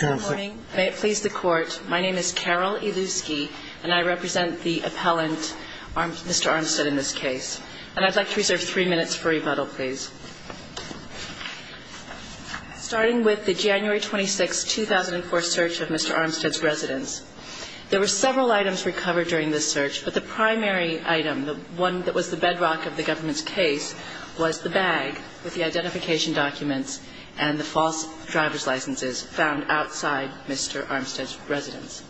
Good morning. May it please the Court. My name is Carol Ilusky, and I represent the appellant, Mr. Armstead, in this case. And I'd like to reserve three minutes for rebuttal, please. Starting with the January 26, 2004 search of Mr. Armstead's residence, there were several items recovered during this search, but the primary item, the one that was the bedrock of the government's case, was the bag with the identification documents and the false driver's licenses found outside Mr. Armstead's residence.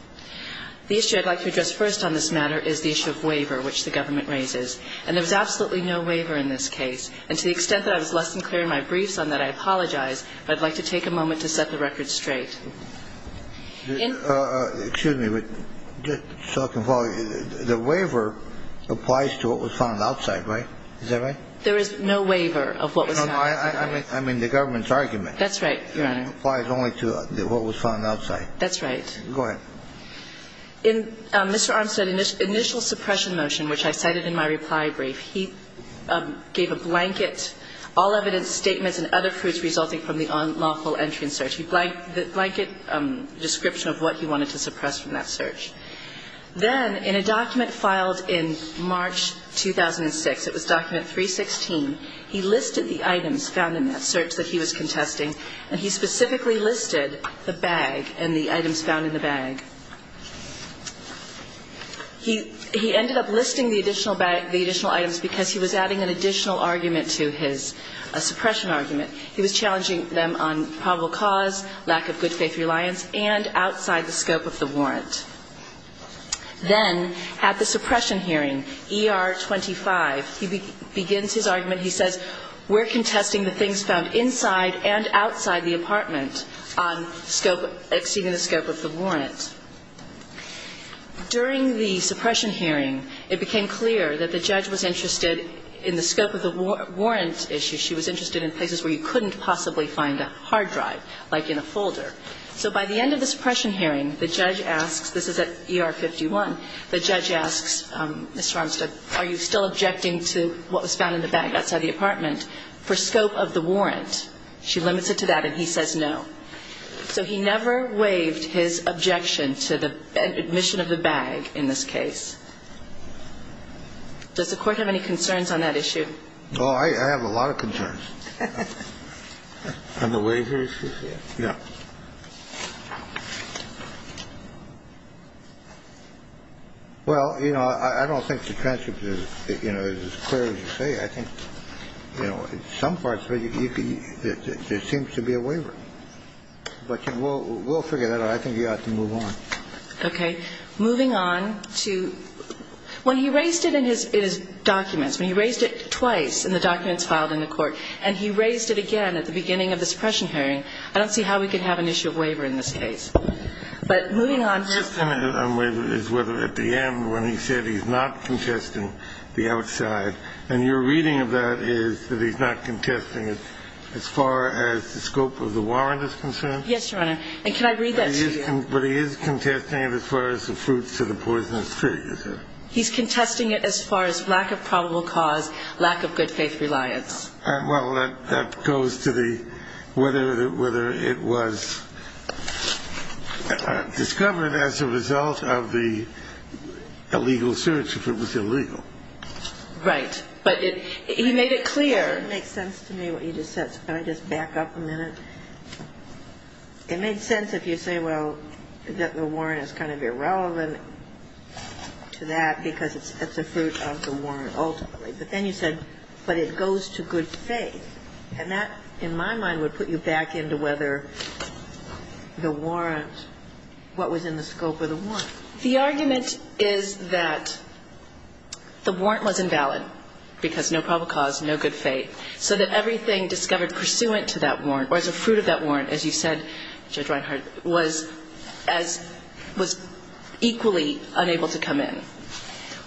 The issue I'd like to address first on this matter is the issue of waiver, which the government raises. And there was absolutely no waiver in this case. And to the extent that I was less than clear in my briefs on that, I apologize, but I'd like to take a moment to set the record straight. Excuse me, but just so I can follow, the waiver applies to what was found outside, right? Is that right? There is no waiver of what was found outside. No, I mean the government's argument. That's right, Your Honor. It applies only to what was found outside. That's right. Go ahead. In Mr. Armstead's initial suppression motion, which I cited in my reply brief, he gave a blanket, all evidence, statements and other proofs resulting from the unlawful entry and search. He blanked the blanket description of what he wanted to suppress from that search. Then in a document filed in March 2006, it was document 316, he listed the items found in that search that he was contesting, and he specifically listed the bag and the items found in the bag. He ended up listing the additional items because he was adding an additional argument to his suppression argument. He was challenging them on probable cause, lack of good faith reliance, and outside the scope of the warrant. Then at the suppression hearing, ER 25, he begins his argument. He says, We're contesting the things found inside and outside the apartment on scope, exceeding the scope of the warrant. During the suppression hearing, it became clear that the judge was interested in the scope of the warrant issue. She was interested in places where you couldn't possibly find a hard drive, like in a folder. So by the end of the suppression hearing, the judge asks, this is at ER 51, the judge asks Mr. Armstead, are you still objecting to what was found in the bag outside the apartment for scope of the warrant? She limits it to that, and he says no. So he never waived his objection to the admission of the bag in this case. Does the Court have any concerns on that issue? No, I have a lot of concerns. And the waiver issue? Yeah. Well, you know, I don't think the transcript is, you know, as clear as you say. I think, you know, in some parts, there seems to be a waiver. But we'll figure that out. I think you ought to move on. Okay. Moving on to when he raised it in his documents, when he raised it twice in the documents filed in the Court, and he raised it again at the beginning of the suppression hearing, I don't see how we could have an issue of waiver in this case. But moving on here. His comment on waiver is whether at the end when he said he's not contesting the outside, and your reading of that is that he's not contesting it as far as the scope of the warrant is concerned? Yes, Your Honor. And can I read that to you? But he is contesting it as far as the fruits of the poisonous tree, you said. He's contesting it as far as lack of probable cause, lack of good faith reliance. Well, that goes to the whether it was discovered as a result of the illegal search, if it was illegal. Right. But he made it clear. It doesn't make sense to me what you just said, so can I just back up a minute? It makes sense if you say, well, that the warrant is kind of irrelevant to that because it's a fruit of the warrant ultimately. But then you said, but it goes to good faith. And that, in my mind, would put you back into whether the warrant, what was in the scope of the warrant. The argument is that the warrant was invalid because no probable cause, no good faith, so that everything discovered pursuant to that warrant or as a fruit of that warrant, as you said, Judge Reinhart, was equally unable to come in.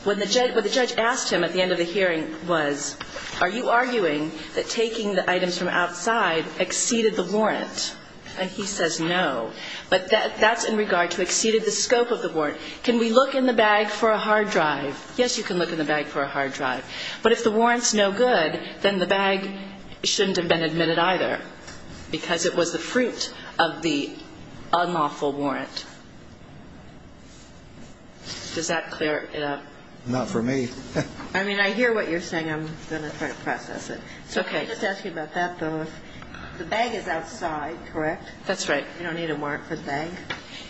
What the judge asked him at the end of the hearing was, are you arguing that taking the items from outside exceeded the warrant? And he says no. But that's in regard to exceeded the scope of the warrant. Can we look in the bag for a hard drive? Yes, you can look in the bag for a hard drive. But if the warrant's no good, then the bag shouldn't have been admitted either because it was the fruit of the unlawful warrant. Does that clear it up? Not for me. I mean, I hear what you're saying. I'm going to try to process it. Okay. Let me just ask you about that, though. The bag is outside, correct? That's right. You don't need a warrant for the bag?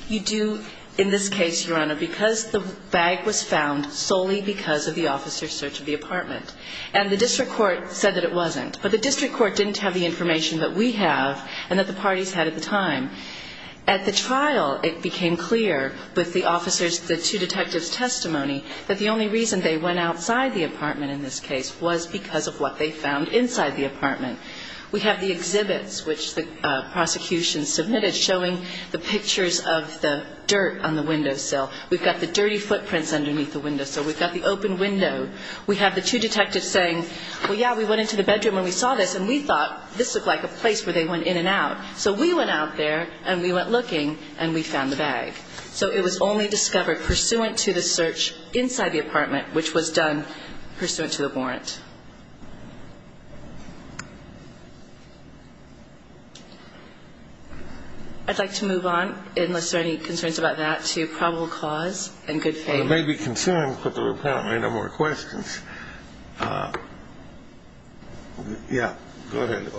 You do in this case, Your Honor, because the bag was found solely because of the officer's search of the apartment. And the district court said that it wasn't. But the district court didn't have the information that we have and that the parties had at the time. At the trial, it became clear with the officers, the two detectives' testimony, that the only reason they went outside the apartment in this case was because of what they found inside the apartment. We have the exhibits, which the prosecution submitted, showing the pictures of the dirt on the windowsill. We've got the dirty footprints underneath the windowsill. We've got the open window. We have the two detectives saying, well, yeah, we went into the bedroom and we saw this, and we thought this looked like a place where they went in and out. So we went out there, and we went looking, and we found the bag. So it was only discovered pursuant to the search inside the apartment, which was done pursuant to a warrant. I'd like to move on, unless there are any concerns about that, to probable cause and good faith. There may be concerns, but there apparently are no more questions. Yeah, go ahead.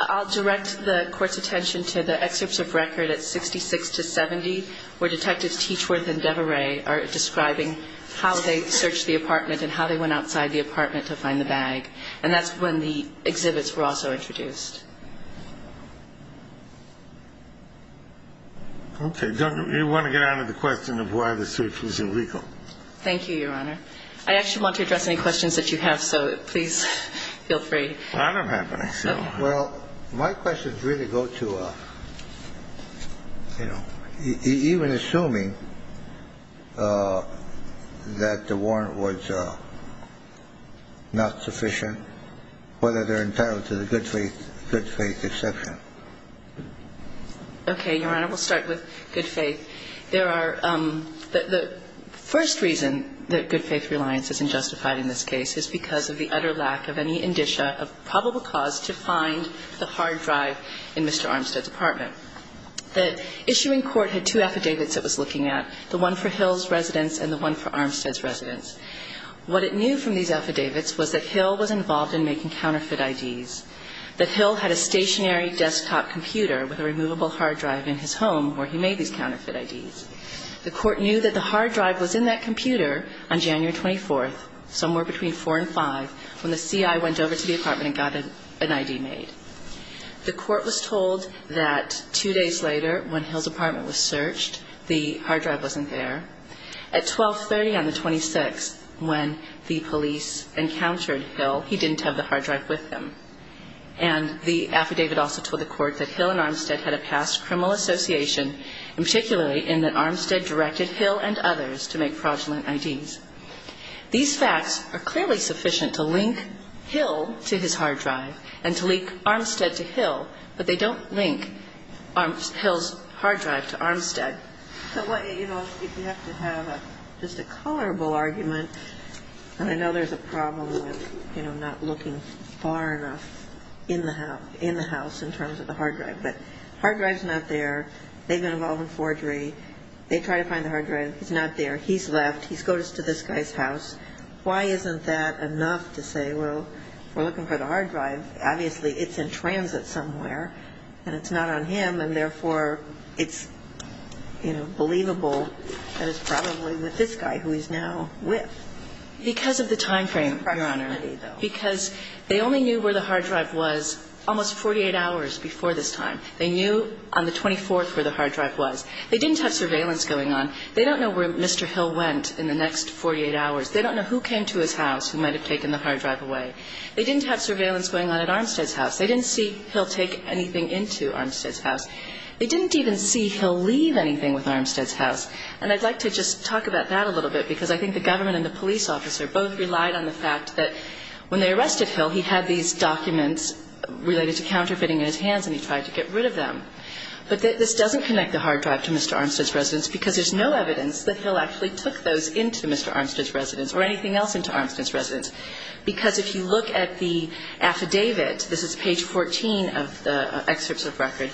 I'll direct the Court's attention to the excerpts of record at 66 to 70, where Detectives Teachworth and Devereux are describing how they searched the apartment and how they went outside the apartment to find the bag. And that's when the exhibits were also introduced. Okay. Do you want to get on to the question of why the search was illegal? Thank you, Your Honor. I actually want to address any questions that you have, so please feel free. Well, I don't have any. Well, my questions really go to, you know, even assuming that the warrant was not sufficient, whether they're entitled to the good faith exception. Okay, Your Honor. We'll start with good faith. The first reason that good faith reliance is unjustified in this case is because of the utter lack of any indicia of probable cause to find the hard drive in Mr. Armstead's apartment. The issuing court had two affidavits it was looking at, the one for Hill's residence and the one for Armstead's residence. What it knew from these affidavits was that Hill was involved in making counterfeit IDs, that Hill had a stationary desktop computer with a removable hard drive in his The court knew that the hard drive was in that computer on January 24th, somewhere between 4 and 5, when the CI went over to the apartment and got an ID made. The court was told that two days later, when Hill's apartment was searched, the hard drive wasn't there. At 1230 on the 26th, when the police encountered Hill, he didn't have the hard drive with him. And the affidavit also told the court that Hill and Armstead had a past criminal association, and particularly in that Armstead directed Hill and others to make fraudulent IDs. These facts are clearly sufficient to link Hill to his hard drive and to link Armstead to Hill, but they don't link Armstead's hard drive to Armstead. So, you know, if you have to have just a colorable argument, and I know there's a problem with, you know, not looking far enough in the house in terms of the hard drive. The hard drive's not there. They've been involved in forgery. They try to find the hard drive. It's not there. He's left. He's go to this guy's house. Why isn't that enough to say, well, we're looking for the hard drive? Obviously, it's in transit somewhere, and it's not on him, and therefore, it's, you know, believable that it's probably with this guy, who he's now with. Because of the time frame, Your Honor. Because they only knew where the hard drive was almost 48 hours before this time. They knew on the 24th where the hard drive was. They didn't have surveillance going on. They don't know where Mr. Hill went in the next 48 hours. They don't know who came to his house who might have taken the hard drive away. They didn't have surveillance going on at Armstead's house. They didn't see Hill take anything into Armstead's house. They didn't even see Hill leave anything with Armstead's house. And I'd like to just talk about that a little bit, because I think the government and the police officer both relied on the fact that when they arrested Hill, he had these documents related to counterfeiting in his hands, and he tried to get rid of them. But this doesn't connect the hard drive to Mr. Armstead's residence, because there's no evidence that Hill actually took those into Mr. Armstead's residence or anything else into Armstead's residence. Because if you look at the affidavit, this is page 14 of the excerpts of record,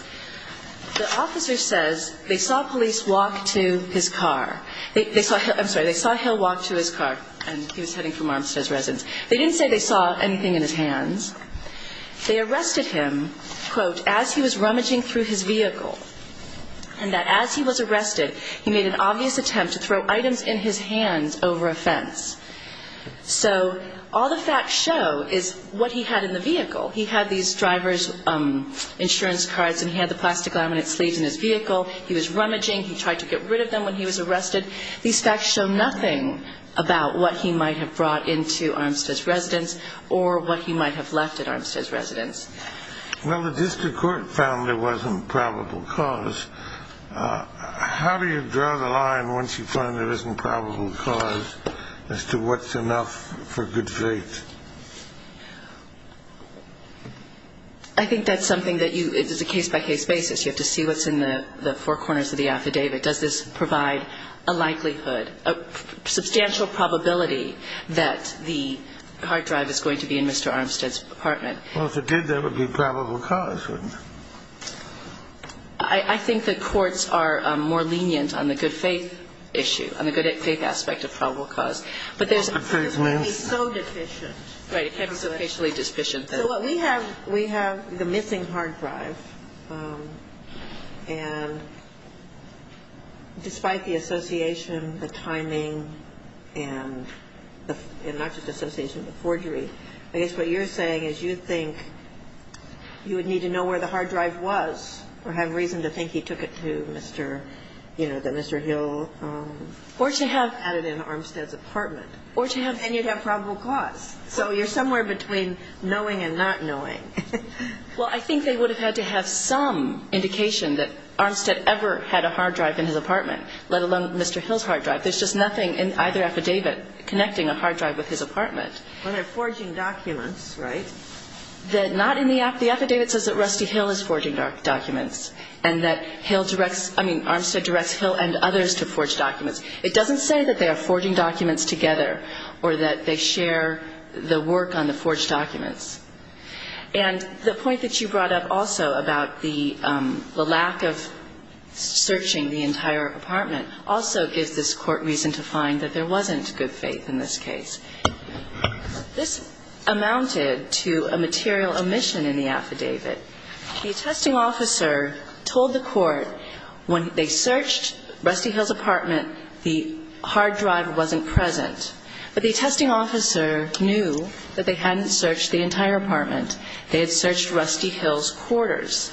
the officer says they saw police walk to his car. I'm sorry. They didn't say they saw anything in his hands. They arrested him, quote, as he was rummaging through his vehicle, and that as he was arrested, he made an obvious attempt to throw items in his hands over a fence. So all the facts show is what he had in the vehicle. He had these driver's insurance cards, and he had the plastic laminate sleeves in his vehicle. He was rummaging. He tried to get rid of them when he was arrested. These facts show nothing about what he might have brought into Armstead's residence or what he might have left at Armstead's residence. Well, the district court found there wasn't probable cause. How do you draw the line once you find there isn't probable cause as to what's enough for good faith? I think that's something that you, as a case-by-case basis, you have to see what's in the four corners of the affidavit. Does this provide a likelihood, a substantial probability that the hard drive is going to be in Mr. Armstead's apartment? Well, if it did, that would be probable cause, wouldn't it? I think that courts are more lenient on the good faith issue, on the good faith aspect of probable cause. But there's no deficient. Right. It can be sufficiently deficient. So what we have, we have the missing hard drive, and despite the association, the timing, and not just association but forgery, I guess what you're saying is you think you would need to know where the hard drive was or have reason to think he took it to Mr., you know, the Mr. Hill. Or to have it in Armstead's apartment. Or to have. And you'd have probable cause. So you're somewhere between knowing and not knowing. Well, I think they would have had to have some indication that Armstead ever had a hard drive in his apartment, let alone Mr. Hill's hard drive. There's just nothing in either affidavit connecting a hard drive with his apartment. Well, they're forging documents, right? Not in the affidavit. The affidavit says that Rusty Hill is forging documents and that Armstead directs Hill and others to forge documents. It doesn't say that they are forging documents together or that they share the work on the forged documents. And the point that you brought up also about the lack of searching the entire apartment also gives this Court reason to find that there wasn't good faith in this case. This amounted to a material omission in the affidavit. The attesting officer told the Court when they searched Rusty Hill's apartment the hard drive wasn't present. But the attesting officer knew that they hadn't searched the entire apartment. They had searched Rusty Hill's quarters.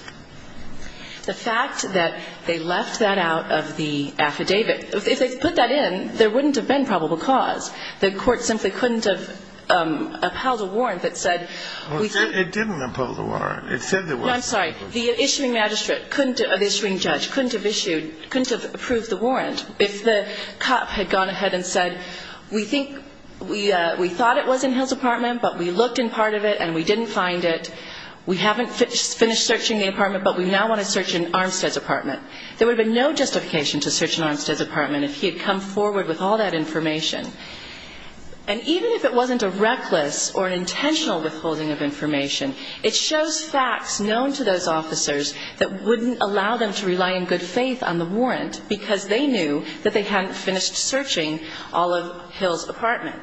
The fact that they left that out of the affidavit, if they had put that in, there wouldn't have been probable cause. The Court simply couldn't have upheld a warrant that said we didn't. It didn't uphold a warrant. It said there wasn't. No, I'm sorry. The issuing magistrate couldn't, the issuing judge couldn't have issued, couldn't have approved the warrant. If the cop had gone ahead and said we think we thought it was in Hill's apartment but we looked in part of it and we didn't find it. We haven't finished searching the apartment but we now want to search in Armstead's apartment. There would have been no justification to search in Armstead's apartment if he had come forward with all that information. And even if it wasn't a reckless or an intentional withholding of information, it shows facts known to those officers that wouldn't allow them to rely in good view that they hadn't finished searching all of Hill's apartment.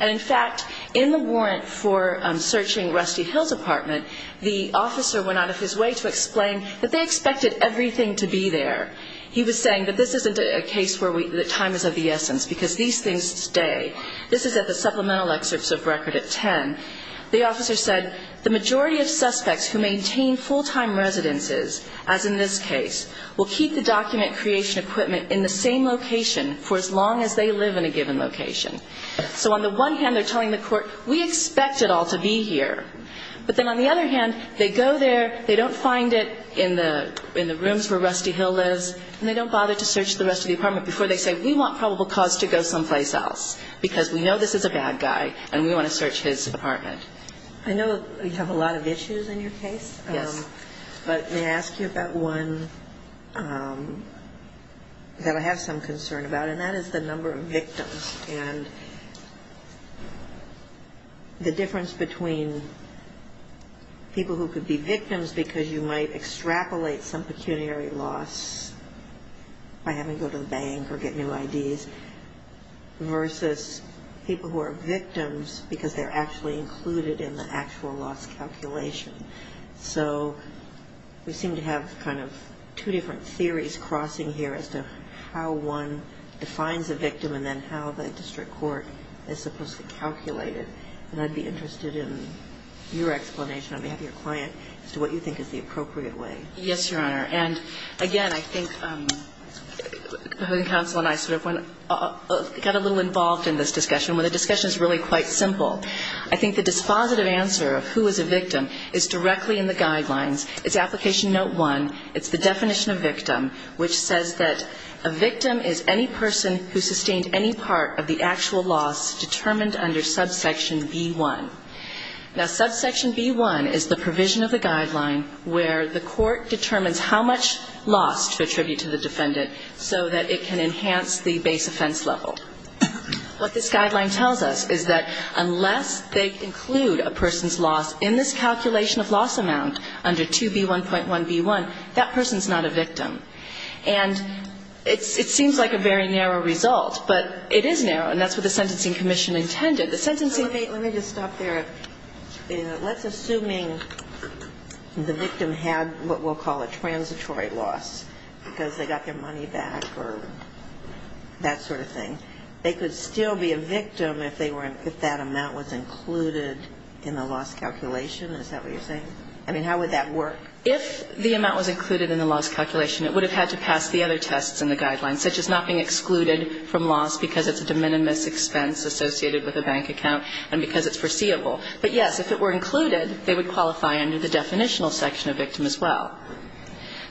And, in fact, in the warrant for searching Rusty Hill's apartment, the officer went out of his way to explain that they expected everything to be there. He was saying that this isn't a case where time is of the essence because these things stay. This is at the supplemental excerpts of record at 10. The officer said, The majority of suspects who maintain full-time residences, as in this case, will keep the document creation equipment in the same location for as long as they live in a given location. So on the one hand, they're telling the court, we expect it all to be here. But then on the other hand, they go there, they don't find it in the rooms where Rusty Hill lives, and they don't bother to search the rest of the apartment before they say, we want probable cause to go someplace else because we know this is a bad guy and we want to search his apartment. I know you have a lot of issues in your case. Yes. But may I ask you about one that I have some concern about? And that is the number of victims. And the difference between people who could be victims because you might extrapolate some pecuniary loss by having to go to the bank or get new IDs versus people who are victims because they're actually included in the actual loss calculation. So we seem to have kind of two different theories crossing here as to how one defines a victim and then how the district court is supposed to calculate it. And I'd be interested in your explanation on behalf of your client as to what you think is the appropriate way. Yes, Your Honor. And, again, I think the housing counsel and I sort of got a little involved in this discussion, where the discussion is really quite simple. I think the dispositive answer of who is a victim is directly in the guidelines. It's application note one. It's the definition of victim, which says that a victim is any person who sustained any part of the actual loss determined under subsection B1. Now, subsection B1 is the provision of the guideline where the court determines how much loss to attribute to the defendant so that it can enhance the base offense level. What this guideline tells us is that unless they include a person's loss in this calculation of loss amount under 2B1.1B1, that person's not a victim. And it seems like a very narrow result, but it is narrow, and that's what the Sentencing Commission intended. The sentencing ---- Let me just stop there. Let's assume the victim had what we'll call a transitory loss because they got their loss. They could still be a victim if they were ---- if that amount was included in the loss calculation. Is that what you're saying? I mean, how would that work? If the amount was included in the loss calculation, it would have had to pass the other tests in the guidelines, such as not being excluded from loss because it's a de minimis expense associated with a bank account and because it's foreseeable. But, yes, if it were included, they would qualify under the definitional section of victim as well.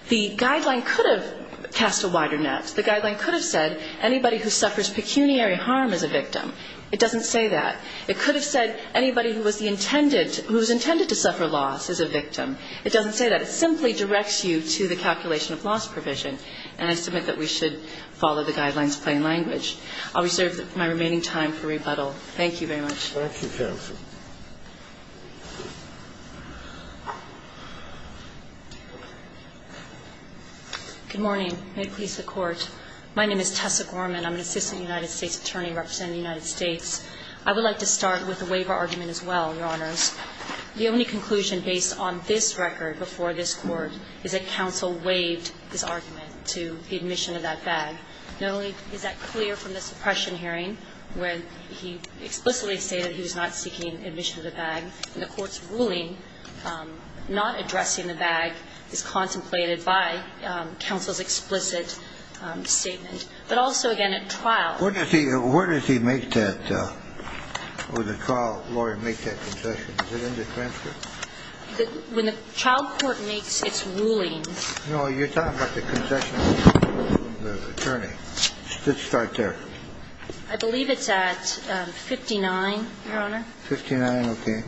The guideline could have cast a wider net. The guideline could have said anybody who suffers pecuniary harm is a victim. It doesn't say that. It could have said anybody who was the intended ---- who was intended to suffer loss is a victim. It doesn't say that. It simply directs you to the calculation of loss provision. And I submit that we should follow the guidelines plain language. I'll reserve my remaining time for rebuttal. Thank you very much. Thank you, counsel. Good morning. May it please the Court. My name is Tessa Gorman. I'm an assistant United States attorney representing the United States. I would like to start with the waiver argument as well, Your Honors. The only conclusion based on this record before this Court is that counsel waived this argument to the admission of that bag. Not only is that clear from the suppression hearing where he explicitly stated that he was not seeking admission of the bag, the Court's ruling not addressing the bag is contemplated by counsel's explicit statement, but also, again, at trial. Where does he make that or the trial lawyer make that concession? Is it in the transcript? When the child court makes its ruling. No, you're talking about the concession of the attorney. Let's start there. I believe it's at 59, Your Honor. 59, okay.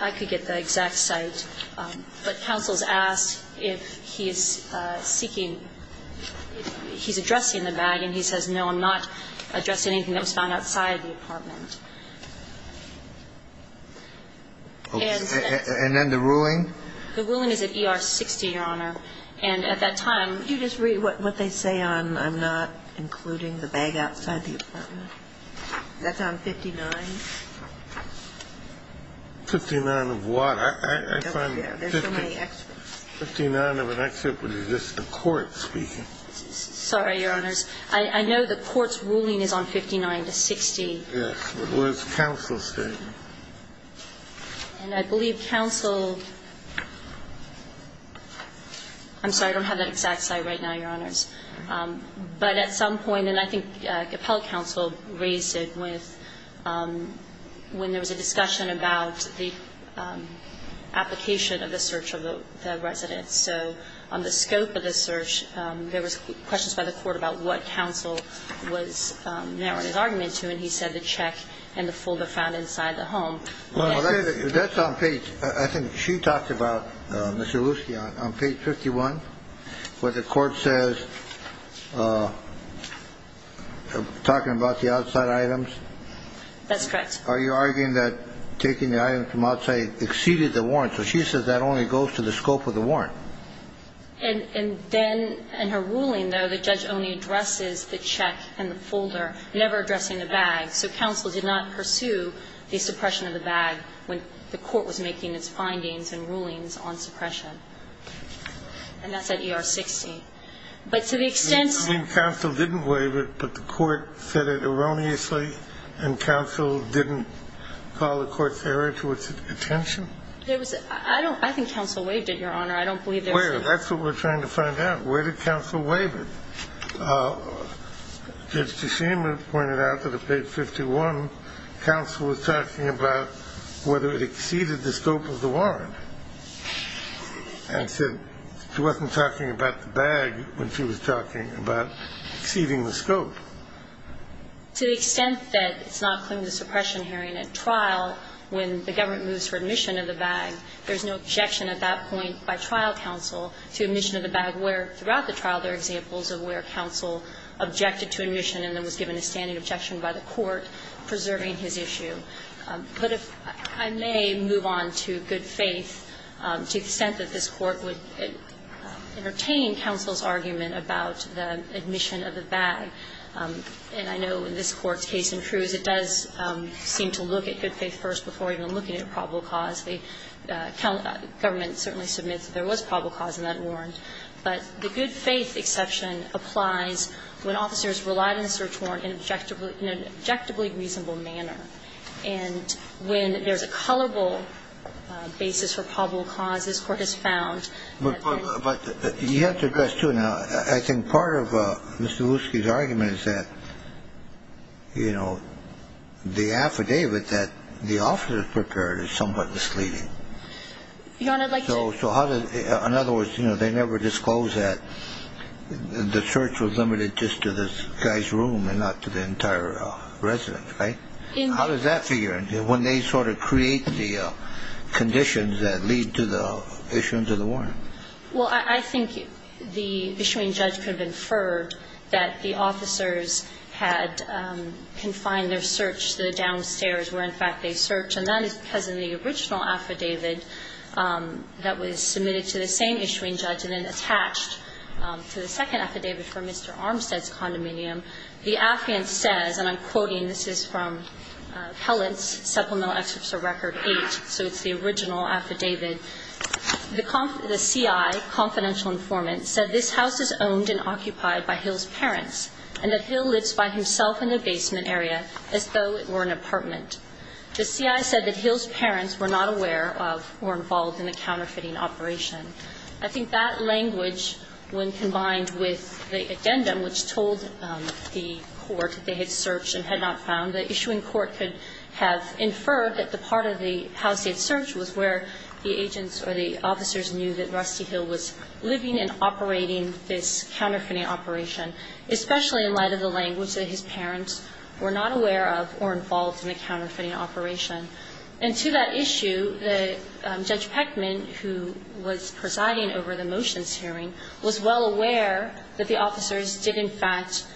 I could get the exact site. But counsel's asked if he is seeking he's addressing the bag, and he says, no, I'm not addressing anything that was found outside the apartment. And then the ruling? The ruling is at ER 60, Your Honor. And at that time, you just read what they say on I'm not including the bag outside the apartment. That's on 59. 59 of what? I find 59 of an exception is just the Court speaking. Sorry, Your Honors. I know the Court's ruling is on 59 to 60. Yes, but it was counsel's statement. And I believe counsel – I'm sorry, I don't have that exact site right now, Your Honors. But at some point, and I think Capell counsel raised it with – when there was a discussion about the application of the search of the residence. So on the scope of the search, there was questions by the Court about what counsel was narrowing his argument to. And he said the check and the folder found inside the home. Well, that's on page – I think she talked about, Mr. Lucey, on page 51, where the Court says – talking about the outside items. That's correct. Are you arguing that taking the item from outside exceeded the warrant? So she says that only goes to the scope of the warrant. And then in her ruling, though, the judge only addresses the check and the folder, never addressing the bag. So counsel did not pursue the suppression of the bag when the Court was making its findings and rulings on suppression. And that's at ER 60. But to the extent – You mean counsel didn't waive it, but the Court said it erroneously, and counsel didn't call the Court's error to its attention? I don't – I think counsel waived it, Your Honor. I don't believe there was any – Wait a minute. That's what we're trying to find out. Where did counsel waive it? Judge Teshima pointed out that on page 51, counsel was talking about whether it exceeded the scope of the warrant and said she wasn't talking about the bag when she was talking about exceeding the scope. To the extent that it's not clear in the suppression hearing at trial when the where, throughout the trial, there are examples of where counsel objected to admission and then was given a standing objection by the Court, preserving his issue. But if I may move on to good faith, to the extent that this Court would entertain counsel's argument about the admission of the bag. And I know in this Court's case in Cruz, it does seem to look at good faith first before even looking at probable cause. The government certainly submits that there was probable cause in that warrant. But the good faith exception applies when officers relied on the search warrant in an objectively reasonable manner. And when there's a colorable basis for probable cause, this Court has found that there is. But you have to address, too. I think part of Mr. Woosky's argument is that, you know, the affidavit that the officer prepared is somewhat misleading. Your Honor, I'd like to... So how does... In other words, you know, they never disclose that the search was limited just to this guy's room and not to the entire residence, right? How does that figure when they sort of create the conditions that lead to the issuance of the warrant? Well, I think the issuing judge could have inferred that the officers had confined their search to the downstairs where, in fact, they searched. And that is because in the original affidavit that was submitted to the same issuing judge and then attached to the second affidavit for Mr. Armstead's condominium, the affidavit says, and I'm quoting. This is from Pellitt's Supplemental Excerpts of Record 8. So it's the original affidavit. The CI, confidential informant, said this house is owned and occupied by Hill's The CI said that Hill's parents were not aware of or involved in the counterfeiting operation. I think that language, when combined with the addendum which told the court they had searched and had not found, the issuing court could have inferred that the part of the house they had searched was where the agents or the officers knew that Rusty Hill was living and operating this counterfeiting operation, especially in light of the language that his parents were not aware of or involved in the counterfeiting operation. And to that issue, Judge Peckman, who was presiding over the motions hearing, was well aware that the officers did, in fact,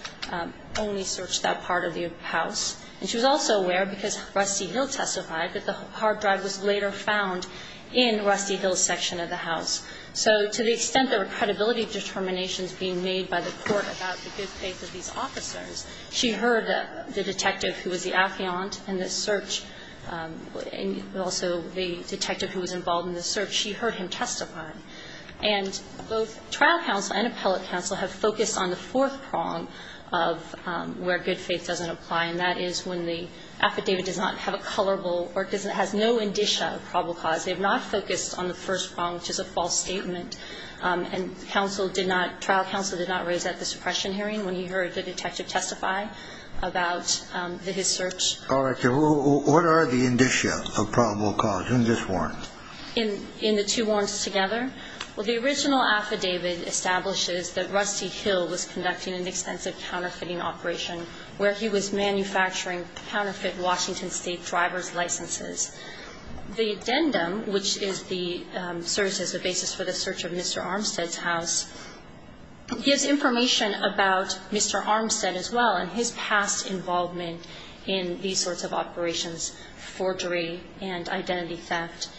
only search that part of the house. And she was also aware, because Rusty Hill testified, that the hard drive was later found in Rusty Hill's section of the house. So to the extent there were credibility determinations being made by the court about the good faith of these officers, she heard the detective who was the affiant in the search, and also the detective who was involved in the search, she heard him testify. And both trial counsel and appellate counsel have focused on the fourth prong of where good faith doesn't apply, and that is when the affidavit does not have a colorable or has no indicia of probable cause. They have not focused on the first prong, which is a false statement. And trial counsel did not raise that at the suppression hearing when he heard the detective testify about his search. All right. What are the indicia of probable cause in this warrant? In the two warrants together? Well, the original affidavit establishes that Rusty Hill was conducting an extensive counterfeiting operation where he was manufacturing counterfeit Washington State driver's licenses. The addendum, which is the service as a basis for the search of Mr. Armstead's house, gives information about Mr. Armstead as well and his past involvement in these sorts of operations, forgery and identity theft.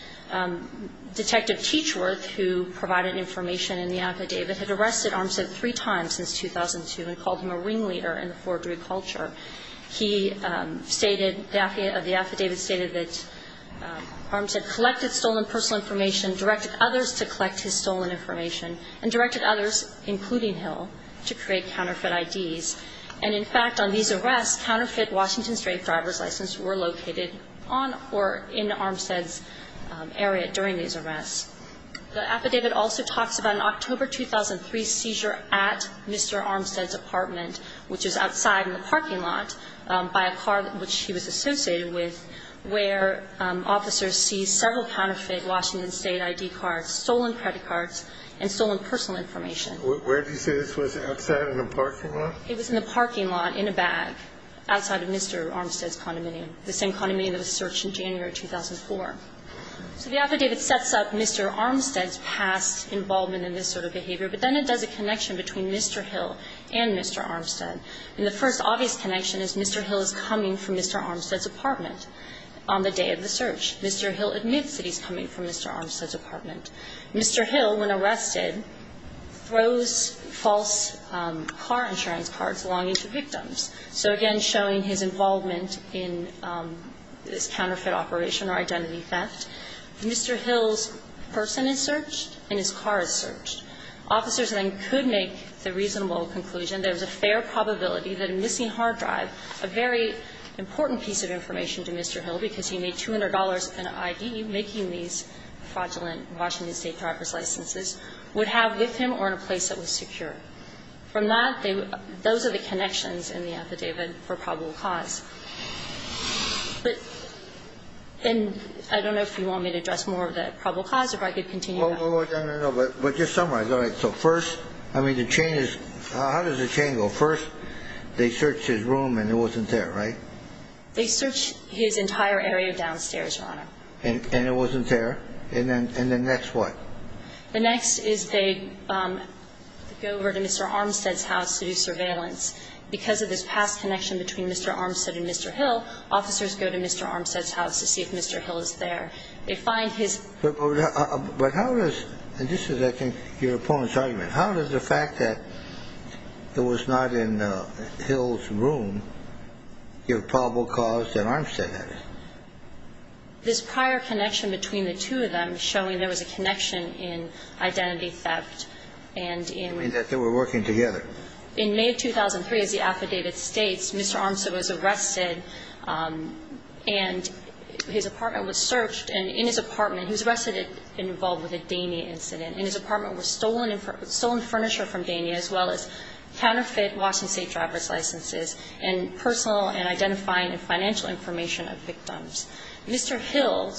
Detective Teachworth, who provided information in the affidavit, had arrested Armstead three times since 2002 and called him a ringleader in the forgery culture. He stated, the affidavit stated that Armstead collected stolen personal information, directed others to collect his stolen information, and directed others, including Hill, to create counterfeit IDs. And, in fact, on these arrests, counterfeit Washington State driver's licenses were located on or in Armstead's area during these arrests. The affidavit also talks about an October 2003 seizure at Mr. Armstead's apartment, which is outside in the parking lot, by a car which he was associated with, where officers seized several counterfeit Washington State ID cards, stolen credit cards, and stolen personal information. Where do you say this was? Outside in a parking lot? It was in a parking lot in a bag outside of Mr. Armstead's condominium, the same condominium that was searched in January 2004. So the affidavit sets up Mr. Armstead's past involvement in this sort of behavior, but then it does a connection between Mr. Hill and Mr. Armstead. And the first obvious connection is Mr. Hill is coming from Mr. Armstead's apartment on the day of the search. Mr. Hill admits that he's coming from Mr. Armstead's apartment. Mr. Hill, when arrested, throws false car insurance cards along into victims. So, again, showing his involvement in this counterfeit operation or identity theft. Mr. Hill's person is searched and his car is searched. Officers then could make the reasonable conclusion, there's a fair probability that a missing hard drive, a very important piece of information to Mr. Hill because he made $200 in ID making these fraudulent Washington State driver's licenses, would have with him or in a place that was secure. From that, those are the connections in the affidavit for probable cause. But I don't know if you want me to address more of the probable cause or if I could continue. No, no, no. But just summarize. All right. So first, I mean, the chain is, how does the chain go? First, they searched his room and it wasn't there, right? They searched his entire area downstairs, Your Honor. And it wasn't there? And then next what? The next is they go over to Mr. Armstead's house to do surveillance. Because of this past connection between Mr. Armstead and Mr. Hill, officers go to Mr. Armstead's house to see if Mr. Hill is there. They find his But how does, and this is, I think, your opponent's argument. How does the fact that it was not in Hill's room give probable cause that Armstead had it? This prior connection between the two of them showing there was a connection in identity theft and in You mean that they were working together? In May of 2003, as the affidavit states, Mr. Armstead was arrested and his apartment was searched. And in his apartment, he was arrested and involved with a Dania incident. And his apartment was stolen furniture from Dania as well as counterfeit Washington State driver's licenses and personal and identifying and financial information of victims. Mr. Hill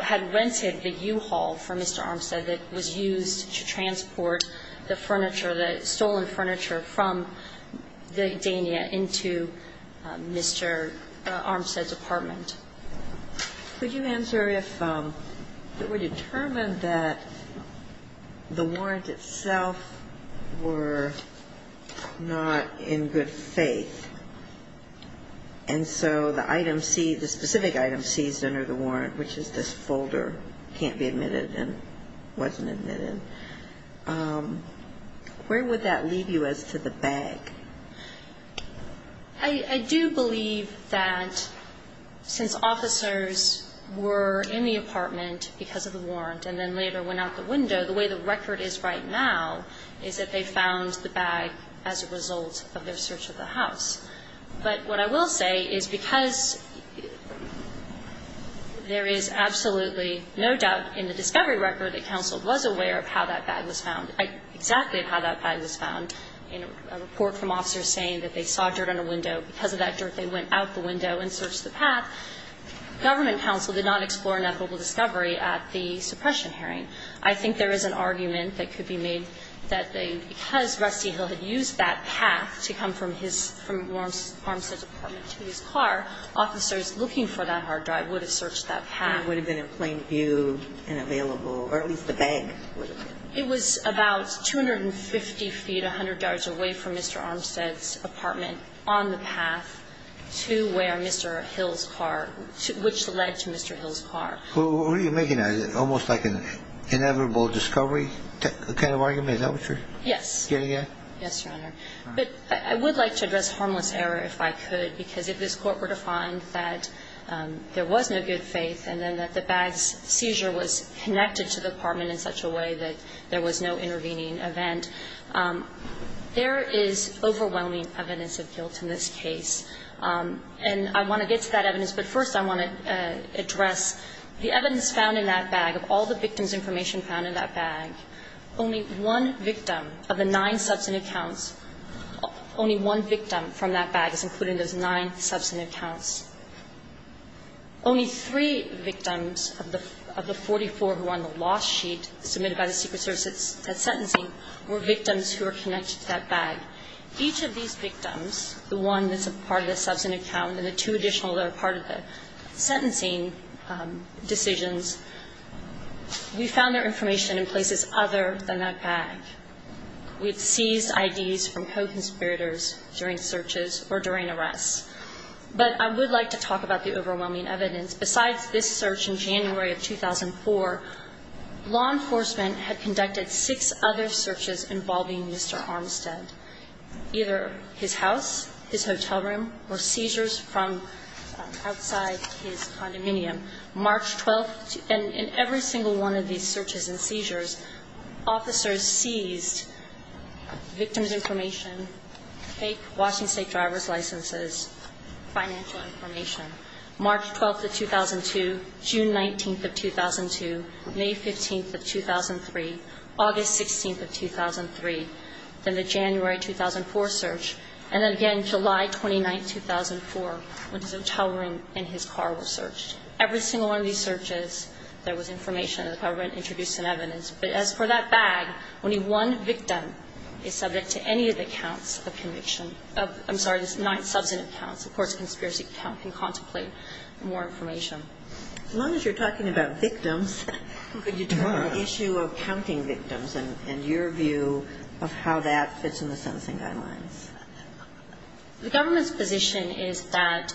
had rented the U-Haul from Mr. Armstead that was used to transport the furniture, the stolen furniture from Dania into Mr. Armstead's apartment. Could you answer if it were determined that the warrant itself were not in good faith, and so the item seized, the specific item seized under the warrant, which is this folder, can't be admitted and wasn't admitted, where would that leave you as to the bag? I do believe that since officers were in the apartment because of the warrant and then later went out the window, the way the record is right now is that they found the bag as a result of their search of the house. But what I will say is because there is absolutely no doubt in the discovery record that counsel was aware of how that bag was found, exactly how that bag was found, and that was the reason that the government counsel did not explore an equitable discovery at the suppression hearing. I think there is an argument that could be made that because Rusty Hill had used that pack to come from his, from Mr. Armstead's apartment to his car, officers looking for that hard drive would have searched that pack. And it would have been in plain view and available, or at least the bag would have been. It was about 250 feet, 100 yards away from Mr. Armstead's apartment on the path to where Mr. Hill's car, which led to Mr. Hill's car. What are you making of that? Is it almost like an inevitable discovery kind of argument? Is that what you're getting at? Yes. Yes, Your Honor. But I would like to address harmless error if I could because if this court were to find that there was no good faith and then that the bag's seizure was connected to the apartment in such a way that there was no intervening event, there is overwhelming evidence of guilt in this case. And I want to get to that evidence, but first I want to address the evidence found in that bag, of all the victim's information found in that bag. Only one victim of the nine substantive counts, only one victim from that bag is included in those nine substantive counts. Only three victims of the 44 who are on the loss sheet submitted by the Secret Service at sentencing were victims who were connected to that bag. Each of these victims, the one that's a part of the substantive count and the two additional that are part of the sentencing decisions, we found their information in places other than that bag. We had seized IDs from co-conspirators during searches or during arrests. But I would like to talk about the overwhelming evidence. Besides this search in January of 2004, law enforcement had conducted six other searches involving Mr. Armstead, either his house, his hotel room, or seizures from outside his condominium. March 12th, in every single one of these searches and seizures, officers seized victim's information, fake Washington State driver's licenses, financial information. March 12th of 2002, June 19th of 2002, May 15th of 2003, August 16th of 2003, then the January 2004 search, and then again July 29th, 2004, when his hotel room and his car were searched. Every single one of these searches, there was information that the government introduced some evidence. But as for that bag, only one victim is subject to any of the counts of conviction of the nine substantive counts. Of course, a conspiracy count can contemplate more information. As long as you're talking about victims, could you talk about the issue of counting victims and your view of how that fits in the sentencing guidelines? The government's position is that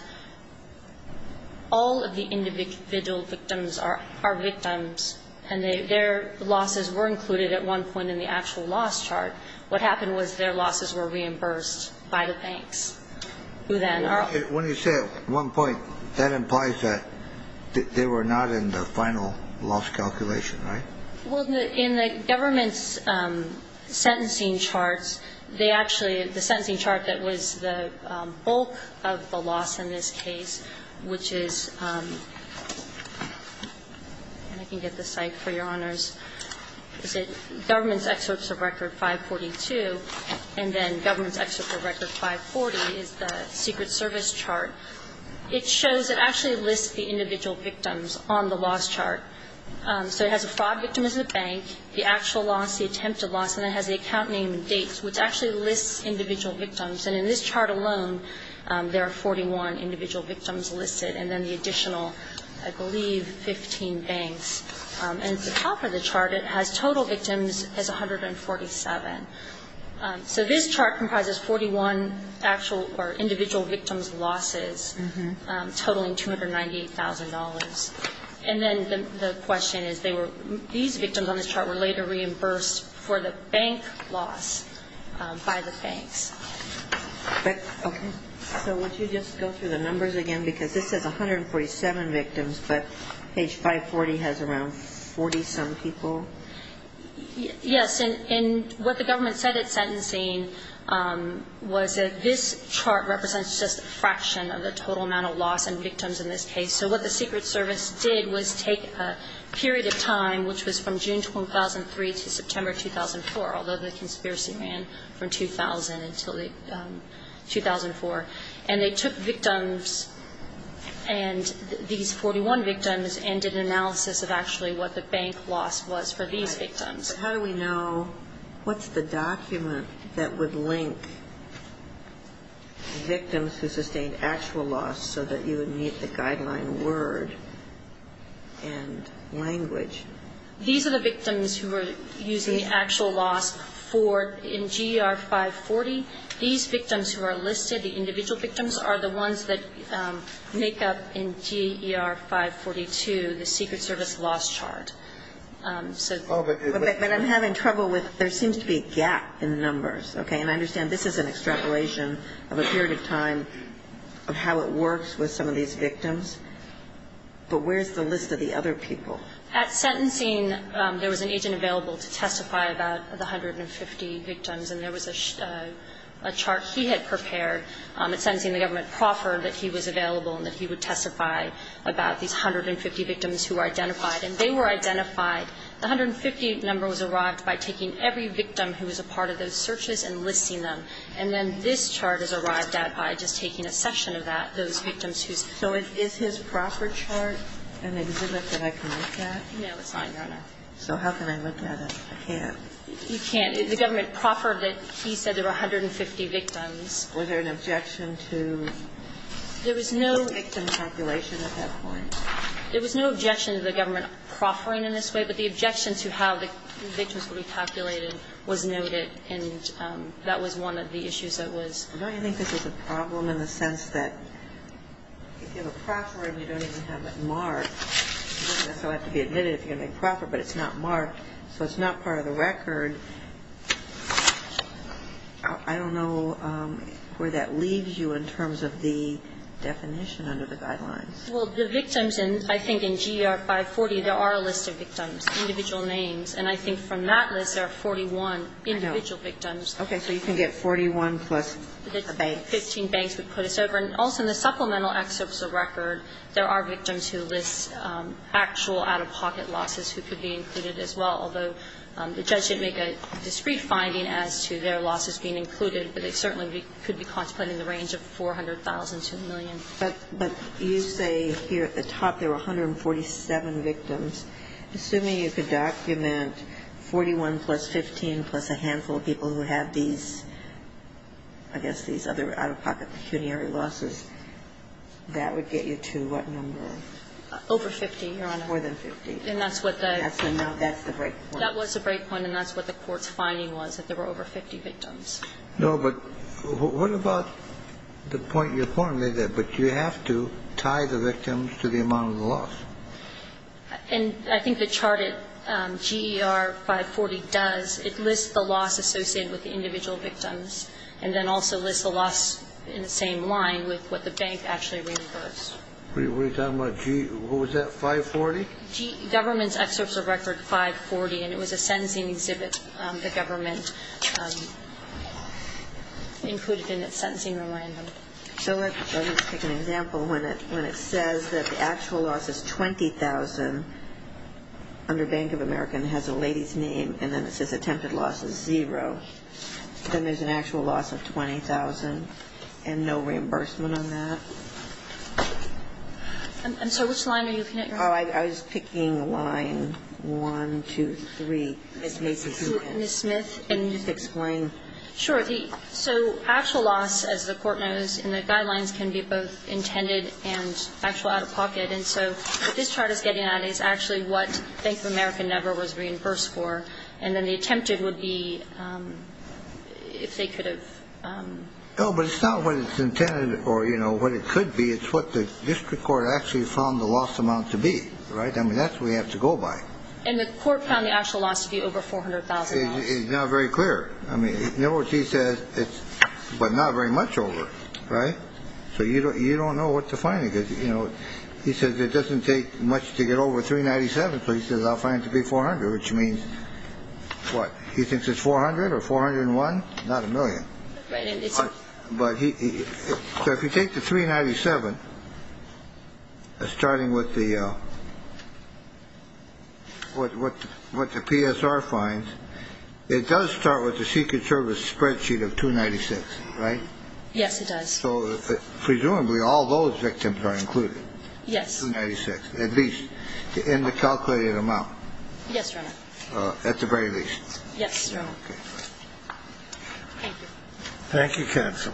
all of the individual victims are victims, and their losses were included at one point in the actual loss chart. What happened was their losses were reimbursed by the banks, who then are. When you say at one point, that implies that they were not in the final loss calculation, right? Well, in the government's sentencing charts, they actually, the sentencing chart that was the bulk of the loss in this case, which is, and I can get the site for your government's excerpts of record 542, and then government's excerpt of record 540 is the Secret Service chart. It shows, it actually lists the individual victims on the loss chart. So it has a fraud victim as a bank, the actual loss, the attempted loss, and it has the account name and dates, which actually lists individual victims. And in this chart alone, there are 41 individual victims listed, and then the additional, I believe, 15 banks. And at the top of the chart, it has total victims as 147. So this chart comprises 41 actual or individual victims' losses, totaling $298,000. And then the question is, these victims on this chart were later reimbursed for the bank loss by the banks. Okay. So would you just go through the numbers again? Because this says 147 victims, but page 540 has around 40-some people. Yes. And what the government said at sentencing was that this chart represents just a fraction of the total amount of loss and victims in this case. So what the Secret Service did was take a period of time, which was from June 2003 to September 2004, although the conspiracy ran from 2000 until 2004, and they took victims, and these 41 victims, and did an analysis of actually what the bank loss was for these victims. How do we know what's the document that would link victims who sustained actual loss so that you would meet the guideline word and language? These are the victims who were using the actual loss for, in GR 540, these victims who are listed, the individual victims, are the ones that make up in GER 542 the Secret Service loss chart. But I'm having trouble with, there seems to be a gap in the numbers. Okay. And I understand this is an extrapolation of a period of time of how it works with some of these victims. But where's the list of the other people? At sentencing, there was an agent available to testify about the 150 victims, and there was a chart he had prepared at sentencing the government proffered that he was available and that he would testify about these 150 victims who were identified. And they were identified. The 150 number was arrived by taking every victim who was a part of those searches and listing them. And then this chart is arrived at by just taking a section of that, those victims whose. So is his proffer chart an exhibit that I can look at? No, it's not, Your Honor. So how can I look at it? I can't. You can't. The government proffered that he said there were 150 victims. Was there an objection to the victim calculation at that point? There was no objection to the government proffering in this way, but the objection to how the victims would be calculated was noted, and that was one of the issues that was. Don't you think this is a problem in the sense that if you have a proffer and you don't even have it marked, you still have to be admitted if you're going to make a proffer, but it's not marked, so it's not part of the record, I don't know where that leaves you in terms of the definition under the guidelines. Well, the victims in, I think, in GR 540, there are a list of victims, individual names, and I think from that list there are 41 individual victims. Okay. So you can get 41 plus the banks. Fifteen banks would put us over. And also in the supplemental excerpts of record, there are victims who list actual out-of-pocket losses who could be included as well, although the judge did make a discrete finding as to their losses being included, but they certainly could be contemplating the range of 400,000 to a million. But you say here at the top there were 147 victims. Assuming you could document 41 plus 15 plus a handful of people who have these, I guess, these other out-of-pocket pecuniary losses, that would get you to what number? Over 50, Your Honor. More than 50. And that's what the. No, that's the break point. That was the break point, and that's what the Court's finding was, that there were over 50 victims. No, but what about the point you're pointing to, that you have to tie the victims to the amount of the loss? And I think the chart at GR 540 does. It lists the loss associated with the individual victims and then also lists the loss in the same line with what the bank actually reimbursed. What are you talking about? What was that, 540? Government's excerpts of record 540, and it was a sentencing exhibit the government included in its sentencing reminder. So let me just take an example. When it says that the actual loss is 20,000 under Bank of America and has a lady's name, and then it says attempted loss is zero, then there's an actual loss of 20,000 and no reimbursement on that. I'm sorry. Which line are you looking at, Your Honor? Oh, I was picking line 1, 2, 3. Ms. Smith, can you explain? Sure. So actual loss, as the Court knows, in the guidelines can be both intended and actual out-of-pocket. And so what this chart is getting at is actually what Bank of America never was reimbursed for, and then the attempted would be if they could have. No, but it's not what it's intended or, you know, what it could be. It's what the district court actually found the loss amount to be, right? I mean, that's what we have to go by. And the court found the actual loss to be over $400,000. It's not very clear. I mean, in other words, he says it's but not very much over, right? So you don't know what to find. Because, you know, he says it doesn't take much to get over 397. So he says I'll find it to be 400, which means what? He thinks it's 400 or 401. Not a million. But if you take the 397, starting with the what the PSR finds, it does start with the Secret Service spreadsheet of 296, right? Yes, it does. So presumably all those victims are included. Yes. Yes. And the district court found the loss amount to be over 396, at least in the calculated amount. Yes, Your Honor. At the very least. Yes, Your Honor. Okay. Thank you. Thank you, counsel.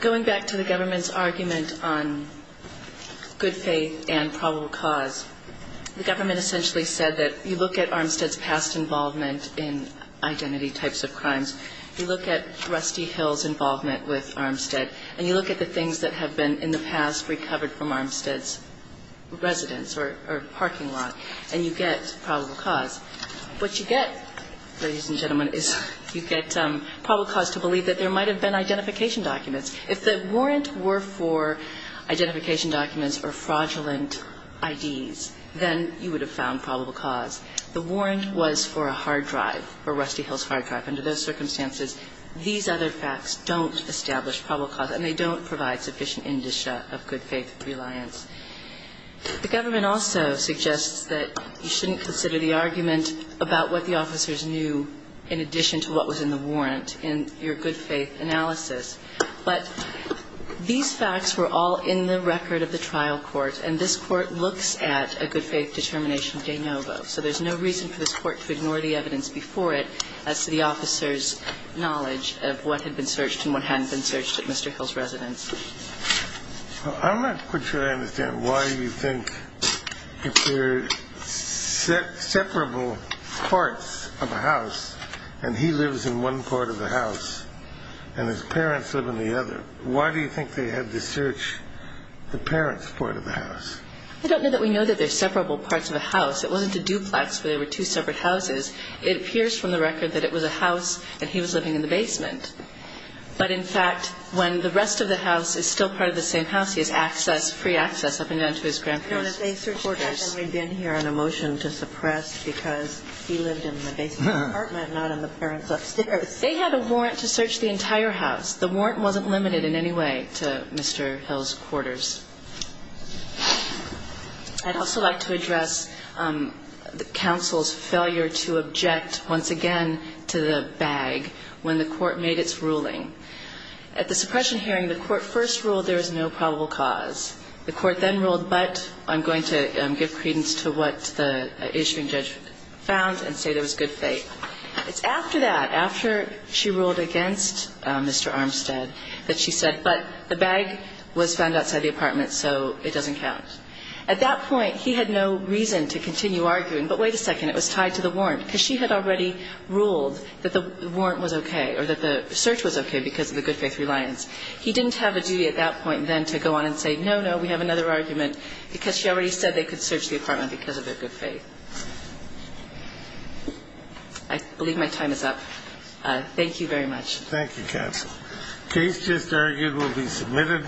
Going back to the government's argument on good faith and probable cause, the government essentially said that you look at Armstead's past involvement in identity types of crimes, and you look at the types of crimes that he was involved in, you look at Rusty Hill's involvement with Armstead, and you look at the things that have been in the past recovered from Armstead's residence or parking lot, and you get probable cause. What you get, ladies and gentlemen, is you get probable cause to believe that there might have been identification documents. If the warrant were for identification documents or fraudulent IDs, then you would have found probable cause. The warrant was for a hard drive, for Rusty Hill's hard drive. Under those circumstances, these other facts don't establish probable cause, and they don't provide sufficient indicia of good faith reliance. The government also suggests that you shouldn't consider the argument about what the officers knew in addition to what was in the warrant in your good faith analysis. But these facts were all in the record of the trial court, and this court looks at a good faith determination de novo. So there's no reason for this court to ignore the evidence before it as to the officers' knowledge of what had been searched and what hadn't been searched at Mr. Hill's residence. I'm not quite sure I understand why you think if there are separable parts of a house and he lives in one part of the house and his parents live in the other, why do you think they had to search the parents' part of the house? I don't know that we know that there are separable parts of a house. It wasn't a duplex where there were two separate houses. It appears from the record that it was a house and he was living in the basement. But, in fact, when the rest of the house is still part of the same house, he has access, free access up and down to his grandparents' quarters. No, they searched that and we've been here on a motion to suppress because he lived in the basement apartment, not in the parents' upstairs. They had a warrant to search the entire house. The warrant wasn't limited in any way to Mr. Hill's quarters. I'd also like to address the counsel's failure to object once again to the bag when the court made its ruling. At the suppression hearing, the court first ruled there was no probable cause. The court then ruled, but I'm going to give credence to what the issuing judge found and say there was good faith. It's after that, after she ruled against Mr. Armstead that she said, but the bag was outside the apartment, so it doesn't count. At that point, he had no reason to continue arguing. But wait a second. It was tied to the warrant because she had already ruled that the warrant was okay or that the search was okay because of the good faith reliance. He didn't have a duty at that point then to go on and say, no, no, we have another argument because she already said they could search the apartment because of their good faith. I believe my time is up. Thank you very much. Thank you, counsel. The case just argued will be submitted.